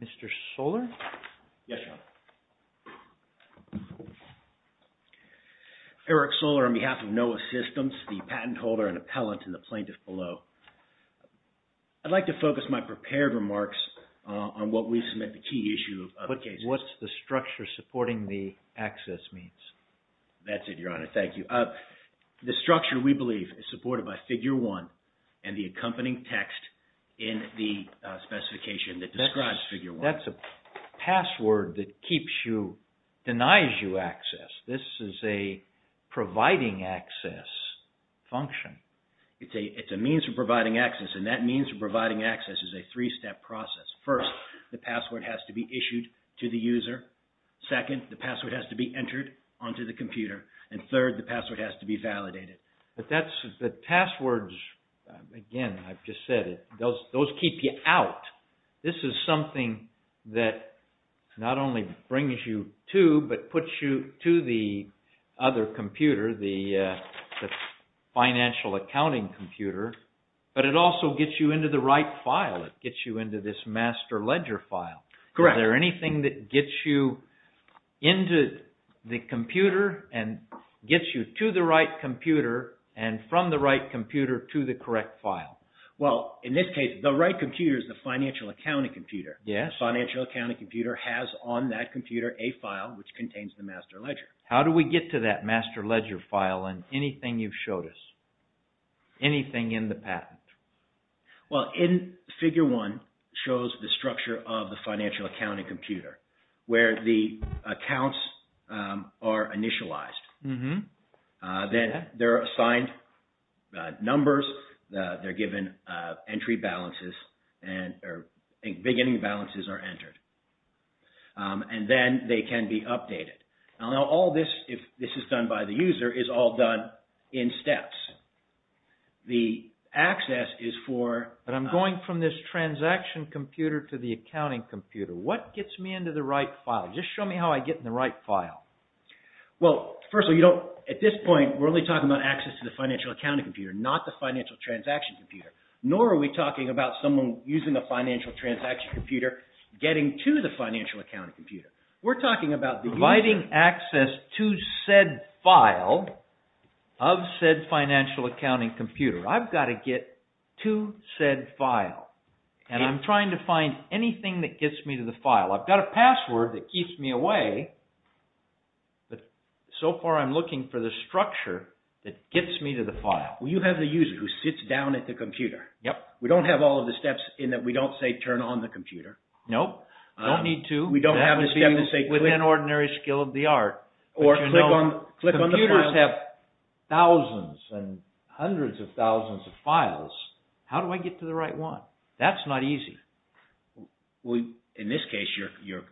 Mr. Soller? Yes, John. Eric Soller on behalf of NOAH SYSTEMS, the patent holder and appellant and the plaintiff below. I'd like to focus my prepared remarks on what we submit the What's the structure supporting the access means? That's it, Your Honor. Thank you. The structure, we believe, is supported by Figure 1 and the accompanying text in the specification that describes Figure 1. That's a password that keeps you, denies you access. This is a providing access function. It's a means of providing access, and that means providing access is a three-step process. First, the password has to be issued to the user. Second, the password has to be entered onto the computer. And third, the password has to be validated. The passwords, again, I've just said it, those keep you out. This is something that not only brings you to, but puts you to the other computer, the financial accounting computer, but it also gets you into the right file. It gets you into this master ledger file. Correct. Is there anything that gets you into the computer and gets you to the right computer and from the right computer to the correct file? Well, in this case, the right computer is the financial accounting computer. Yes. The financial accounting computer has on that computer a file which contains the master ledger. How do we get to that master ledger? Anything in the patent? Well, in Figure 1, it shows the structure of the financial accounting computer where the accounts are initialized. Then they're assigned numbers. They're given entry balances and beginning balances are entered. And then they can be The access is for... But I'm going from this transaction computer to the accounting computer. What gets me into the right file? Just show me how I get in the right file. Well, first of all, you don't... At this point, we're only talking about access to the financial accounting computer, not the financial transaction computer. Nor are we talking about someone using a financial transaction computer getting to the financial accounting computer. We're talking about providing access to said file of said financial accounting computer. I've got to get to said file. And I'm trying to find anything that gets me to the file. I've got a password that keeps me away. But so far, I'm looking for the structure that gets me to the file. Well, you have the user who sits down at the computer. Yep. We don't have all of the steps in that we don't say turn on the computer. Nope. Don't need to. We don't have the step to say click. With an ordinary skill of the art. Or click on the file. Computers have thousands and hundreds of thousands of files. How do I get to the right one? That's not easy. Well, in this case, you're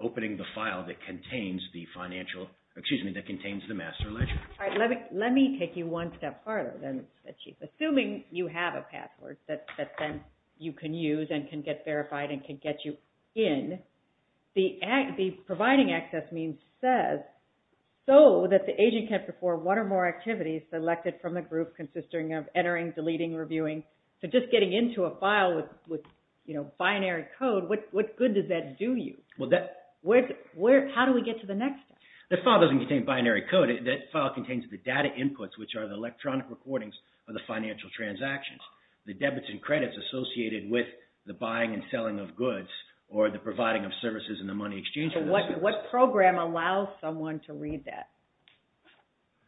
opening the file that contains the financial... Excuse me, that contains the master ledger. All right. Let me take you one step farther than that you... Assuming you have a password that then you can use and can get verified and can get you in, the providing access means says so that the agent can perform one or more activities selected from the group consisting of entering, deleting, reviewing. So just getting into a file with binary code, what good does that do you? How do we get to the next step? The file doesn't contain binary code. That file contains the data inputs which are the electronic recordings of the financial transactions. The debits and credits associated with the debits or the providing of services in the money exchange. So what program allows someone to read that?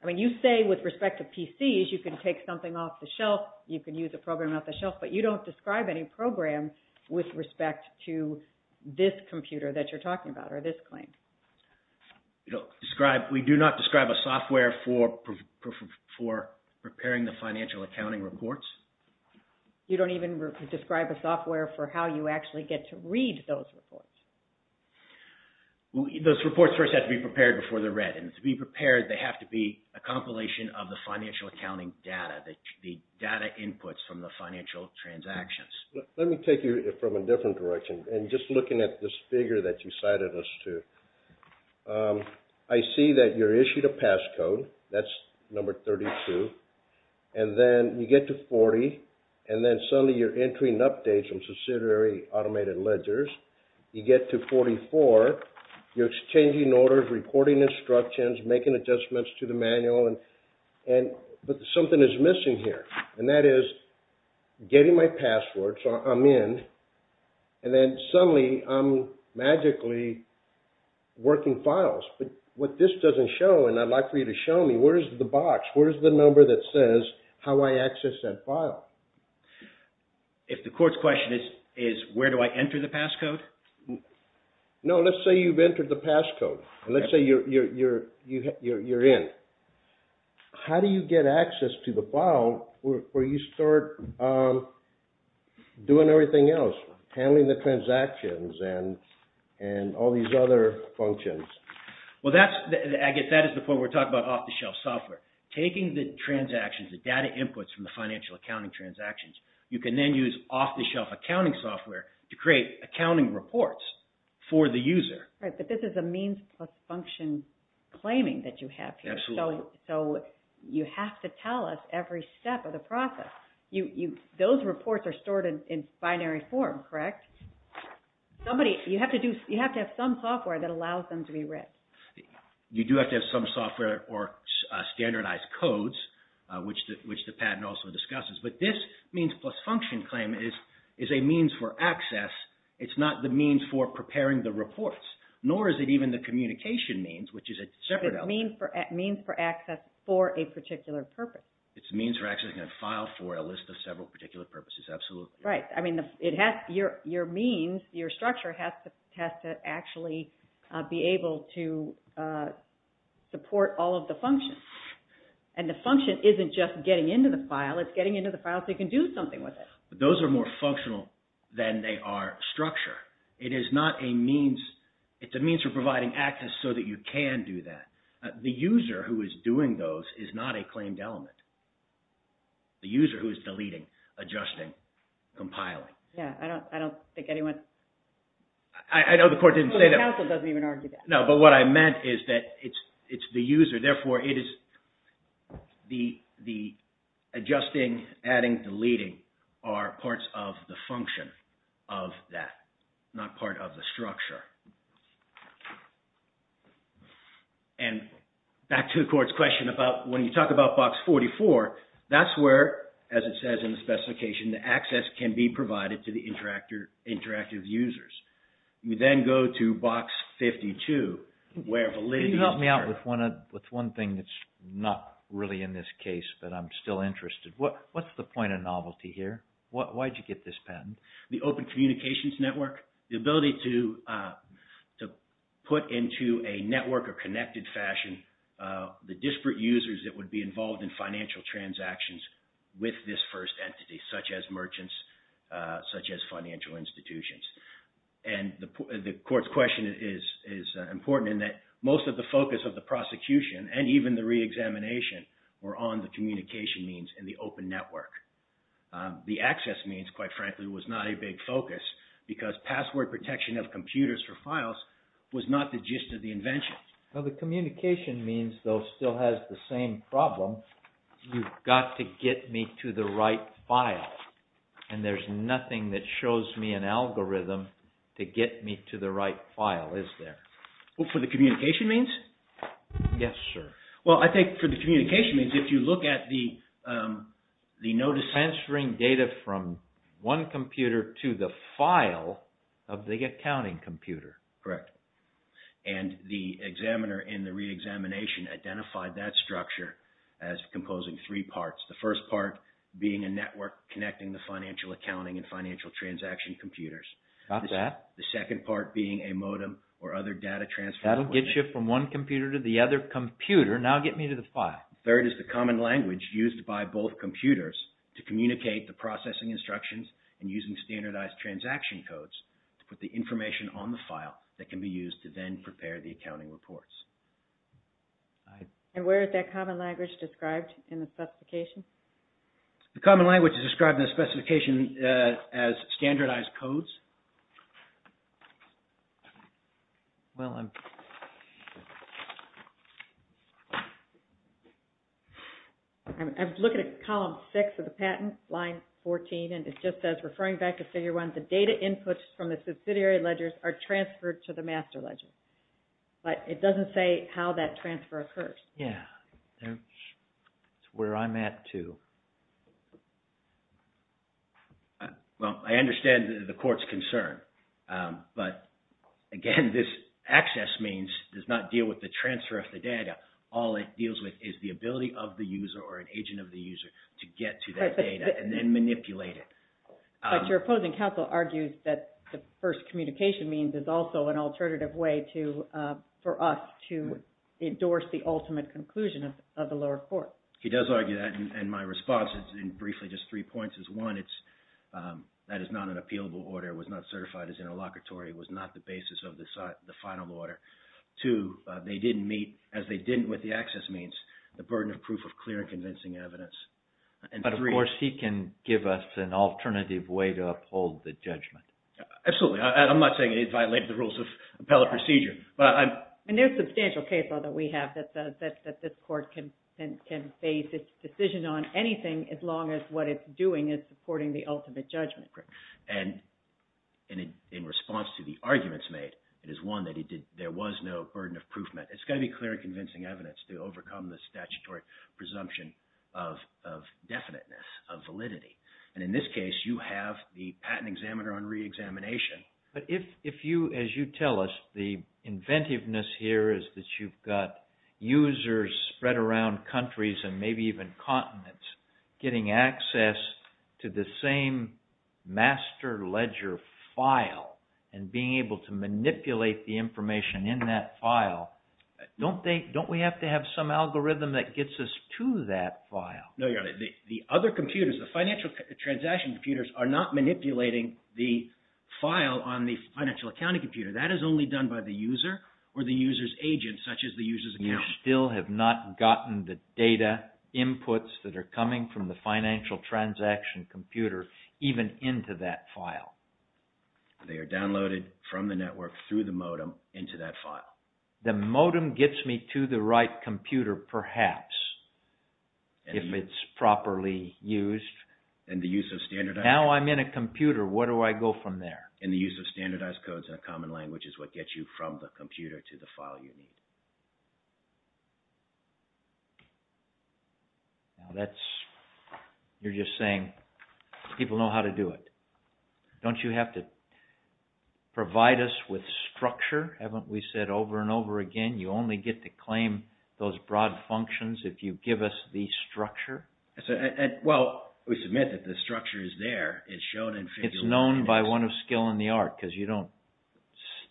I mean, you say with respect to PCs, you can take something off the shelf. You can use a program off the shelf. But you don't describe any program with respect to this computer that you're talking about or this claim. We do not describe a software for preparing the financial accounting reports. You don't even describe a software for how you actually get to read those reports. Those reports first have to be prepared before they're read. And to be prepared, they have to be a compilation of the financial accounting data, the data inputs from the financial transactions. Let me take you from a different direction and just looking at this figure that you cited us to. I see that you're issued a passcode. That's number 32. And then you get to 40. And then suddenly you're entering updates from subsidiary automated ledgers. You get to 44. You're exchanging orders, reporting instructions, making adjustments to the manual. But something is missing here. And that is getting my password. So I'm in. And then suddenly I'm magically working files. But what this doesn't show, and I'd like for you to show me, where's the box? Where's the number that says how I access that file? If the court's question is, where do I enter the passcode? No, let's say you've entered the passcode. Let's say you're in. How do you get access to the file where you start doing everything else, handling the transactions and all these other functions? Well, I guess that is the point we're talking about off-the-shelf software. Taking the transactions, the data inputs from the financial accounting transactions, you can then use off-the-shelf accounting software to create accounting reports for the user. Right, but this is a means plus function claiming that you have here. So you have to tell us every step of the process. Those reports are stored in binary form, correct? You have to have some software that allows them to be read. You do have to have some software or standardized codes, which the patent also discusses. But this means plus function claim is a means for access. It's not the means for preparing the reports, nor is it even the communication means, which is a separate element. It's a means for access for a particular purpose. It's a means for accessing a file for a list of several particular purposes, absolutely. Right. I mean, your means, your structure has to actually be able to support all of the functions. And the function isn't just getting into the file, it's getting into the file so you can do something with it. Those are more functional than they are structure. It is not a means. It's a means for providing access so that you can do that. The user who is doing those is not a claimed element. The user who is deleting, adjusting, compiling. Yeah, I don't think anyone... I know the court didn't say that. The counsel doesn't even argue that. No, but what I meant is that it's the user, therefore it is the adjusting, adding, deleting are parts of the function of that, not part of the structure. And back to the court's question about when you talk about Box 44, that's where, as it says in the specification, the access can be provided to the interactive users. You then go to Box 52, where validity... Can you help me out with one thing that's not really in this case, but I'm still interested. What's the point of novelty here? Why did you get this patent? The open communications network, the ability to put into a network or connected fashion the disparate users that would be involved in financial transactions with this first entity, such as merchants, such as financial institutions. And the court's question is important in that most of the focus of the prosecution and even the reexamination were on the communication means and the open network. The access means, quite frankly, was not a big focus because password protection of computers for files was not the gist of the invention. The communication means, though, still has the same problem. You've got to get me to the right file. And there's nothing that shows me an algorithm to get me to the right file, is there? For the communication means? Yes, sir. Well, I think for the communication means, if you look at the notice... Transferring data from one computer to the file of the accounting computer. Correct. And the examiner in the reexamination identified that structure as composing three parts. The first part being a network connecting the financial accounting and financial transaction computers. Got that. The second part being a modem or other data transfer... That'll get you from one computer to the other computer. Now get me to the file. Third is the common language used by both computers to communicate the processing instructions and using standardized transaction codes to put the information on the file that can be used to then prepare the accounting reports. And where is that common language described in the specification? The common language is described in the specification as standardized codes. Well, I'm... I was looking at column six of the patent, line 14, and it just says, referring back to figure one, the data inputs from the subsidiary ledgers are transferred to the master ledger. But it doesn't say how that transfer occurs. Yeah. That's where I'm at, too. Well, I understand the court's concern. But, again, this access means does not deal with the transfer of the data. All it deals with is the ability of the user or an agent of the user to get to that data and then manipulate it. But your opposing counsel argues that the first communication means is also an alternative way for us to endorse the ultimate conclusion of the lower court. He does argue that. And my response is in briefly just three points. One, that is not an appealable order. It was not certified as interlocutory. It was not the basis of the final order. Two, they didn't meet, as they didn't with the access means, the burden of proof of clear and convincing evidence. But, of course, he can give us an alternative way to uphold the judgment. Absolutely. I'm not saying it violates the rules of appellate procedure. And there are substantial cases that we have that this court can base its decision on anything as long as what it's doing is supporting the ultimate judgment. And in response to the arguments made, it is one that there was no burden of proof. It's got to be clear and convincing evidence to overcome the statutory presumption of definiteness, of validity. And in this case, you have the patent examiner on reexamination. But if you, as you tell us, the inventiveness here is that you've got users spread around countries and maybe even continents getting access to the same master ledger file and being able to manipulate the information in that file, don't we have to have some algorithm that gets us to that file? No, Your Honor. The other computers, the financial transaction computers, are not manipulating the file on the financial accounting computer. That is only done by the user or the user's agent, such as the user's accountant. You still have not gotten the data inputs that are coming from the financial transaction computer even into that file. They are downloaded from the network through the modem into that file. The modem gets me to the right computer, perhaps, if it's properly used. And the use of standardized... Now I'm in a computer, where do I go from there? And the use of standardized codes in a common language is what gets you from the computer to the file you need. Now that's, you're just saying, people know how to do it. Don't you have to provide us with structure? Haven't we said over and over again, you only get to claim those broad functions if you give us the structure? Well, we submit that the structure is there. It's shown in... It's known by one of skill in the art, because you don't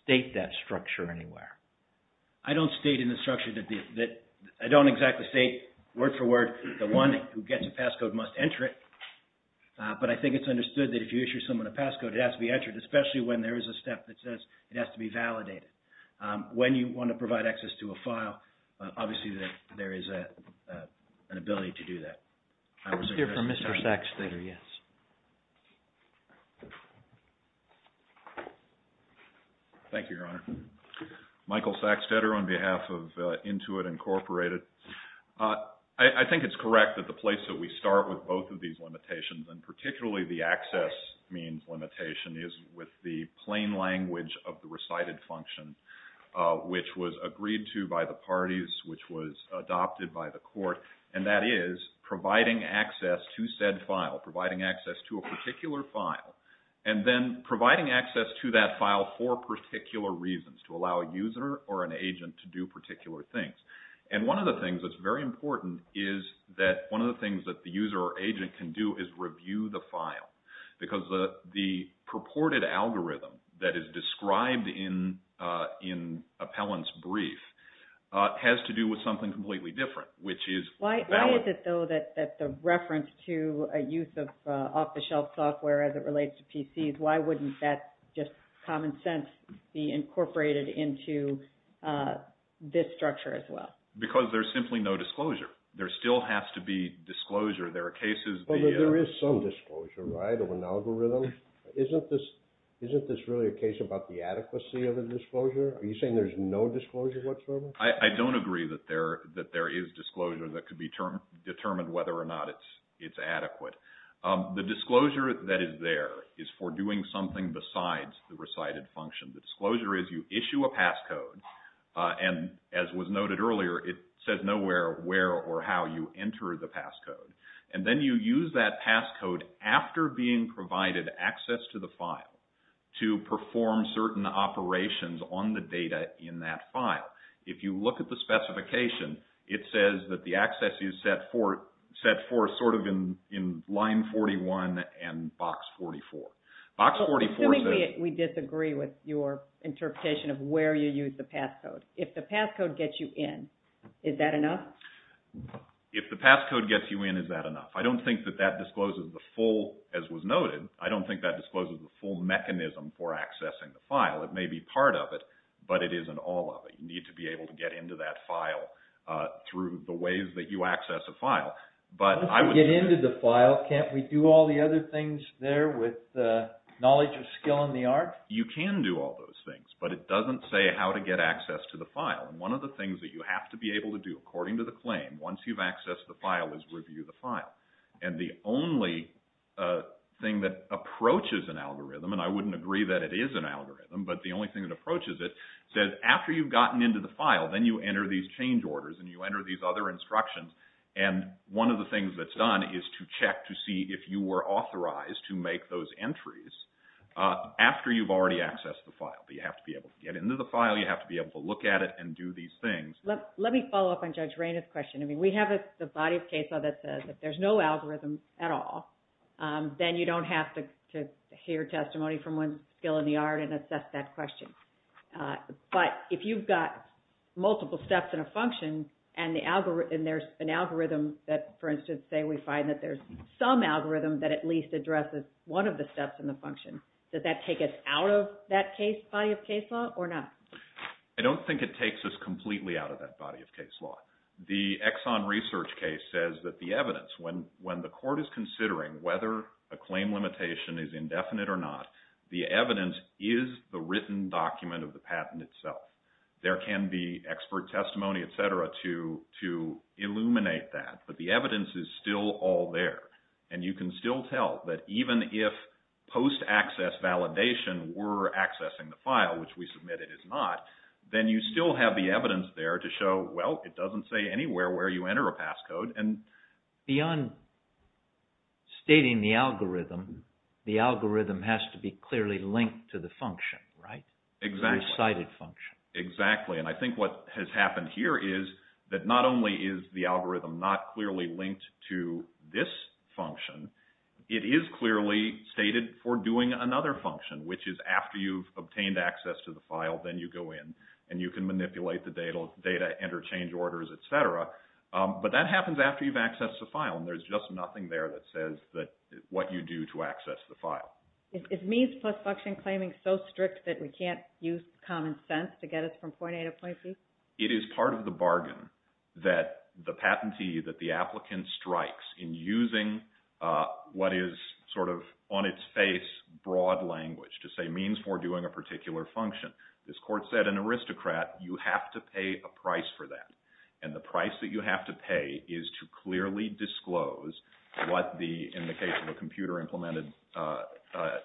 state that structure anywhere. I don't state in the structure that... I don't exactly state word for word, the one who gets a passcode must enter it. But I think it's understood that if you issue someone a passcode, it has to be entered, especially when there is a step that says it has to be validated. When you want to provide access to a file, obviously there is an ability to do that. I was here for Mr. Sacksteder, yes. Thank you, Your Honor. Michael Sacksteder on behalf of Intuit Incorporated. I think it's correct that the place that we start with both of these limitations, and with the plain language of the recited function, which was agreed to by the parties, which was adopted by the court, and that is providing access to said file, providing access to a particular file, and then providing access to that file for particular reasons, to allow a user or an agent to do particular things. And one of the things that's very important is that one of the things that the user or an algorithm that is described in Appellant's brief has to do with something completely different, which is valid. Why is it, though, that the reference to a use of off-the-shelf software as it relates to PCs, why wouldn't that just common sense be incorporated into this structure as well? Because there's simply no disclosure. There still has to be disclosure. There are cases where... Isn't this really a case about the adequacy of the disclosure? Are you saying there's no disclosure whatsoever? I don't agree that there is disclosure that could be determined whether or not it's adequate. The disclosure that is there is for doing something besides the recited function. The disclosure is you issue a passcode, and as was noted earlier, it says nowhere where or how you enter the passcode. And then you use that passcode after being provided access to the file to perform certain operations on the data in that file. If you look at the specification, it says that the access is set for sort of in line 41 and box 44. Box 44 says... Assuming we disagree with your interpretation of where you use the passcode, if the passcode gets you in, is that enough? If the passcode gets you in, is that enough? I don't think that that discloses the full... As was noted, I don't think that discloses the full mechanism for accessing the file. It may be part of it, but it isn't all of it. You need to be able to get into that file through the ways that you access a file. But I would... Once you get into the file, can't we do all the other things there with knowledge of skill and the art? You can do all those things, but it doesn't say how to get access to the file. And one of the things that you have to be able to do, according to the claim, once you've accessed the file, is review the file. And the only thing that approaches an algorithm, and I wouldn't agree that it is an algorithm, but the only thing that approaches it, says after you've gotten into the file, then you enter these change orders and you enter these other instructions. And one of the things that's done is to check to see if you were authorized to make those entries after you've already accessed the file. You have to be able to get into the file. You have to be able to look at it and do these things. Let me follow up on Judge Raina's question. I mean, we have the body of case law that says if there's no algorithm at all, then you don't have to hear testimony from one's skill in the art and assess that question. But if you've got multiple steps in a function and there's an algorithm that, for instance, say we find that there's some algorithm that at least addresses one of the steps in the function, does that take us out of that body of case law or not? I don't think it takes us completely out of that body of case law. The Exxon Research case says that the evidence, when the court is considering whether a claim limitation is indefinite or not, the evidence is the written document of the patent itself. There can be expert testimony, et cetera, to illuminate that. But the evidence is still all there. And you can still tell that even if post-access validation were accessing the file, which we submit it is not, then you still have the evidence there to show, well, it doesn't say anywhere where you enter a passcode. And beyond stating the algorithm, the algorithm has to be clearly linked to the function, right? Exactly. The recited function. Exactly. And I think what has happened here is that not only is the algorithm not clearly linked to this function, it is clearly stated for doing another function, which is after you've accessed the file, then you go in and you can manipulate the data, enter change orders, et cetera. But that happens after you've accessed the file, and there's just nothing there that says what you do to access the file. Is means plus function claiming so strict that we can't use common sense to get us from point A to point B? It is part of the bargain that the patentee, that the applicant strikes in using what is sort of on its face broad language to say means for doing a particular function. This court said an aristocrat, you have to pay a price for that. And the price that you have to pay is to clearly disclose what the, in the case of a computer implemented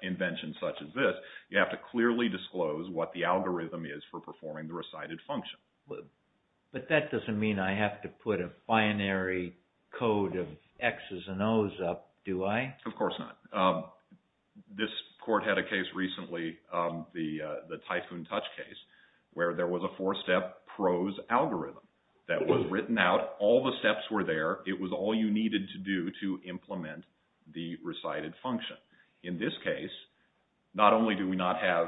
invention such as this, you have to clearly disclose what the algorithm is for performing the recited function. But that doesn't mean I have to put a binary code of X's and O's up, do I? Of course not. This court had a case recently, the Typhoon Touch case, where there was a four-step prose algorithm that was written out. All the steps were there. It was all you needed to do to implement the recited function. In this case, not only do we not have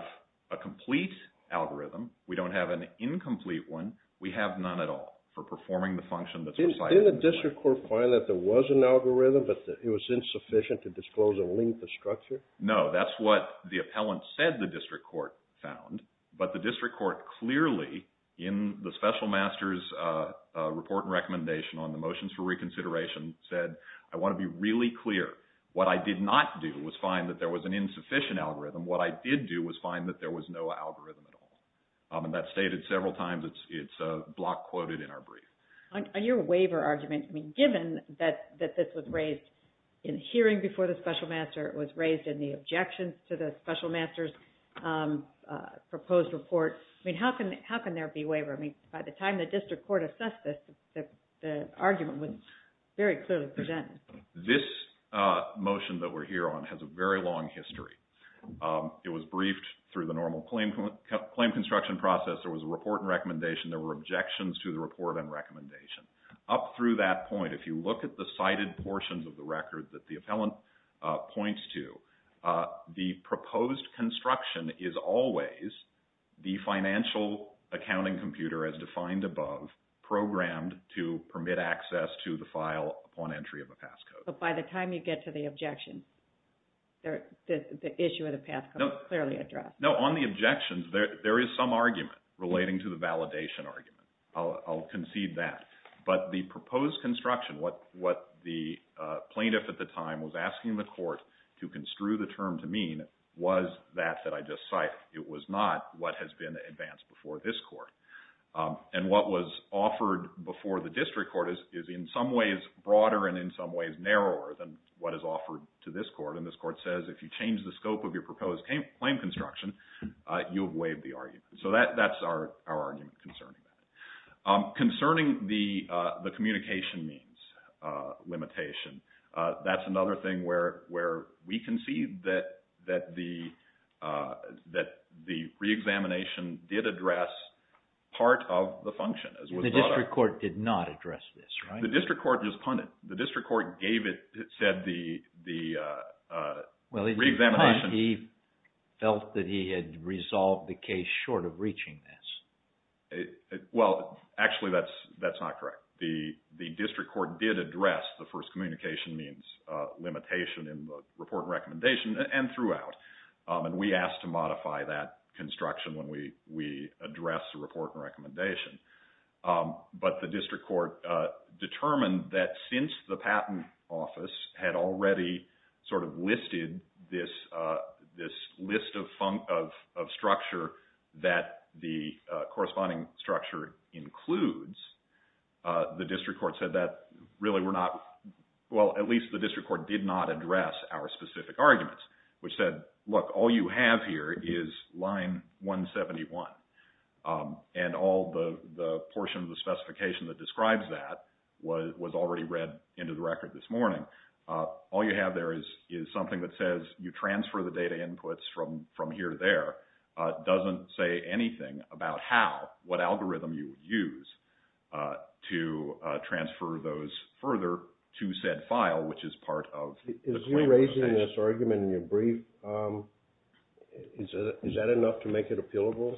a complete algorithm, we don't have an incomplete one, we have none at all for performing the function that's recited. Didn't the district court find that there was an algorithm, but that it was insufficient to disclose and link the structure? No, that's what the appellant said the district court found. But the district court clearly, in the special master's report and recommendation on the motions for reconsideration, said, I want to be really clear. What I did not do was find that there was an insufficient algorithm. What I did do was find that there was no algorithm at all. And that's stated several times. It's block quoted in our brief. On your waiver argument, given that this was raised in hearing before the special master, it was raised in the objections to the special master's proposed report. How can there be waiver? By the time the district court assessed this, the argument was very clearly presented. This motion that we're here on has a very long history. It was briefed through the normal claim construction process. There was a report and recommendation. There were objections to the report and recommendation. Up through that point, if you look at the cited portions of the record that the appellant points to, the proposed construction is always the financial accounting computer, as defined above, programmed to permit access to the file upon entry of a passcode. But by the time you get to the objections, the issue of the passcode is clearly addressed. No, on the objections, there is some argument relating to the validation argument. I'll concede that. But the proposed construction, what the plaintiff at the time was asking the court to construe the term to mean, was that that I just cited. It was not what has been advanced before this court. And what was offered before the district court is in some ways broader and in some ways narrower than what is offered to this court. And this court says if you change the scope of your proposed claim construction, you have waived the argument. So that's our argument concerning that. Concerning the communication means limitation, that's another thing where we concede that the reexamination did address part of the function. The district court did not address this, right? The district court just punted. The district court gave it, said the reexamination. Well, he felt that he had resolved the case short of reaching this. Well, actually, that's not correct. The district court did address the first communication means limitation in the report and recommendation and throughout. And we asked to modify that construction when we addressed the report and recommendation. But the district court determined that since the patent office had already sort of listed this list of structure that the corresponding structure includes, the district court said that really we're not, well, at least the district court did not address our specific arguments, which said, look, all you have here is line 171. And all the portion of the specification that describes that was already read into the record this morning. All you have there is something that says you transfer the data inputs from here to there. It doesn't say anything about how, what algorithm you would use to transfer those further to said file, which is part of the claim. You're raising this argument in your brief. Is that enough to make it appealable?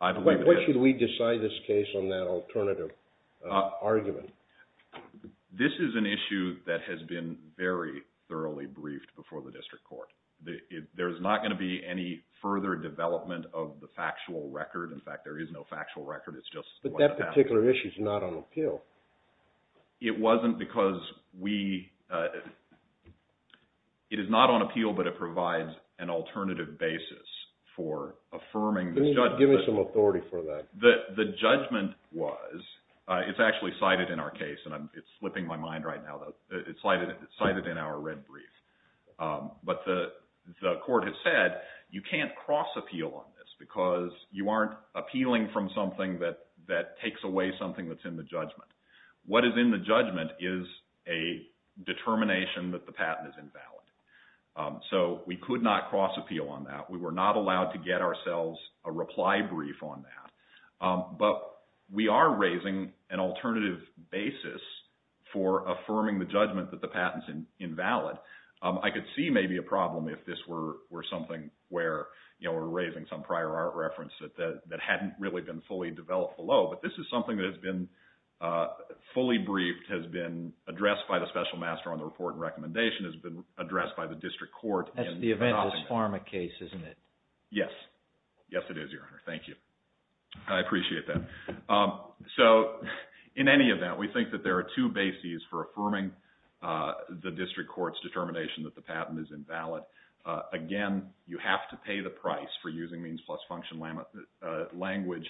What should we decide this case on that alternative argument? This is an issue that has been very thoroughly briefed before the district court. There is not going to be any further development of the factual record. In fact, there is no factual record. It's just that particular issue is not on appeal. It wasn't because we, it is not on appeal, but it provides an alternative basis for affirming this judgment. Give me some authority for that. The judgment was, it's actually cited in our case, and it's slipping my mind right now. It's cited in our red brief. But the court has said you can't cross appeal on this because you aren't appealing from something that that takes away something that's in the judgment. What is in the judgment is a determination that the patent is invalid. So we could not cross appeal on that. We were not allowed to get ourselves a reply brief on that. But we are raising an alternative basis for affirming the judgment that the patent is invalid. I could see maybe a problem if this were something where, you know, we're raising some prior art reference that hadn't really been fully developed below. But this is something that has been fully briefed, has been addressed by the special master on the report and recommendation, has been addressed by the district court. That's the eventless pharma case, isn't it? Yes. Yes, it is, Your Honor. Thank you. I appreciate that. So in any event, we think that there are two bases for affirming the district court's determination that the patent is invalid. Again, you have to pay the price for using means plus function language.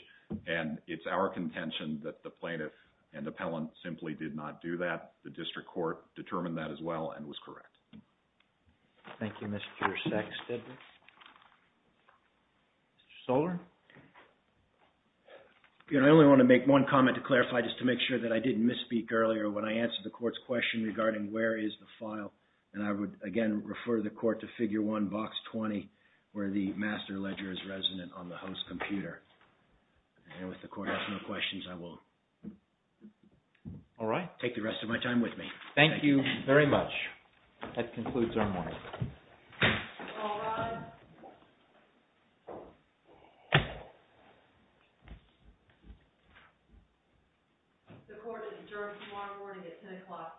And it's our contention that the plaintiff and the appellant simply did not do that. The district court determined that as well and was correct. Thank you, Mr. Sexton. Mr. Soller? I only want to make one comment to clarify just to make sure that I didn't misspeak earlier when I answered the court's question regarding where is the file. And I would, again, refer the court to Figure 1, Box 20, where the master ledger is resident on the host computer. And if the court has no questions, I will take the rest of my time with me. Thank you very much. That concludes our morning. All rise. The court adjourns tomorrow morning at 10 o'clock a.m.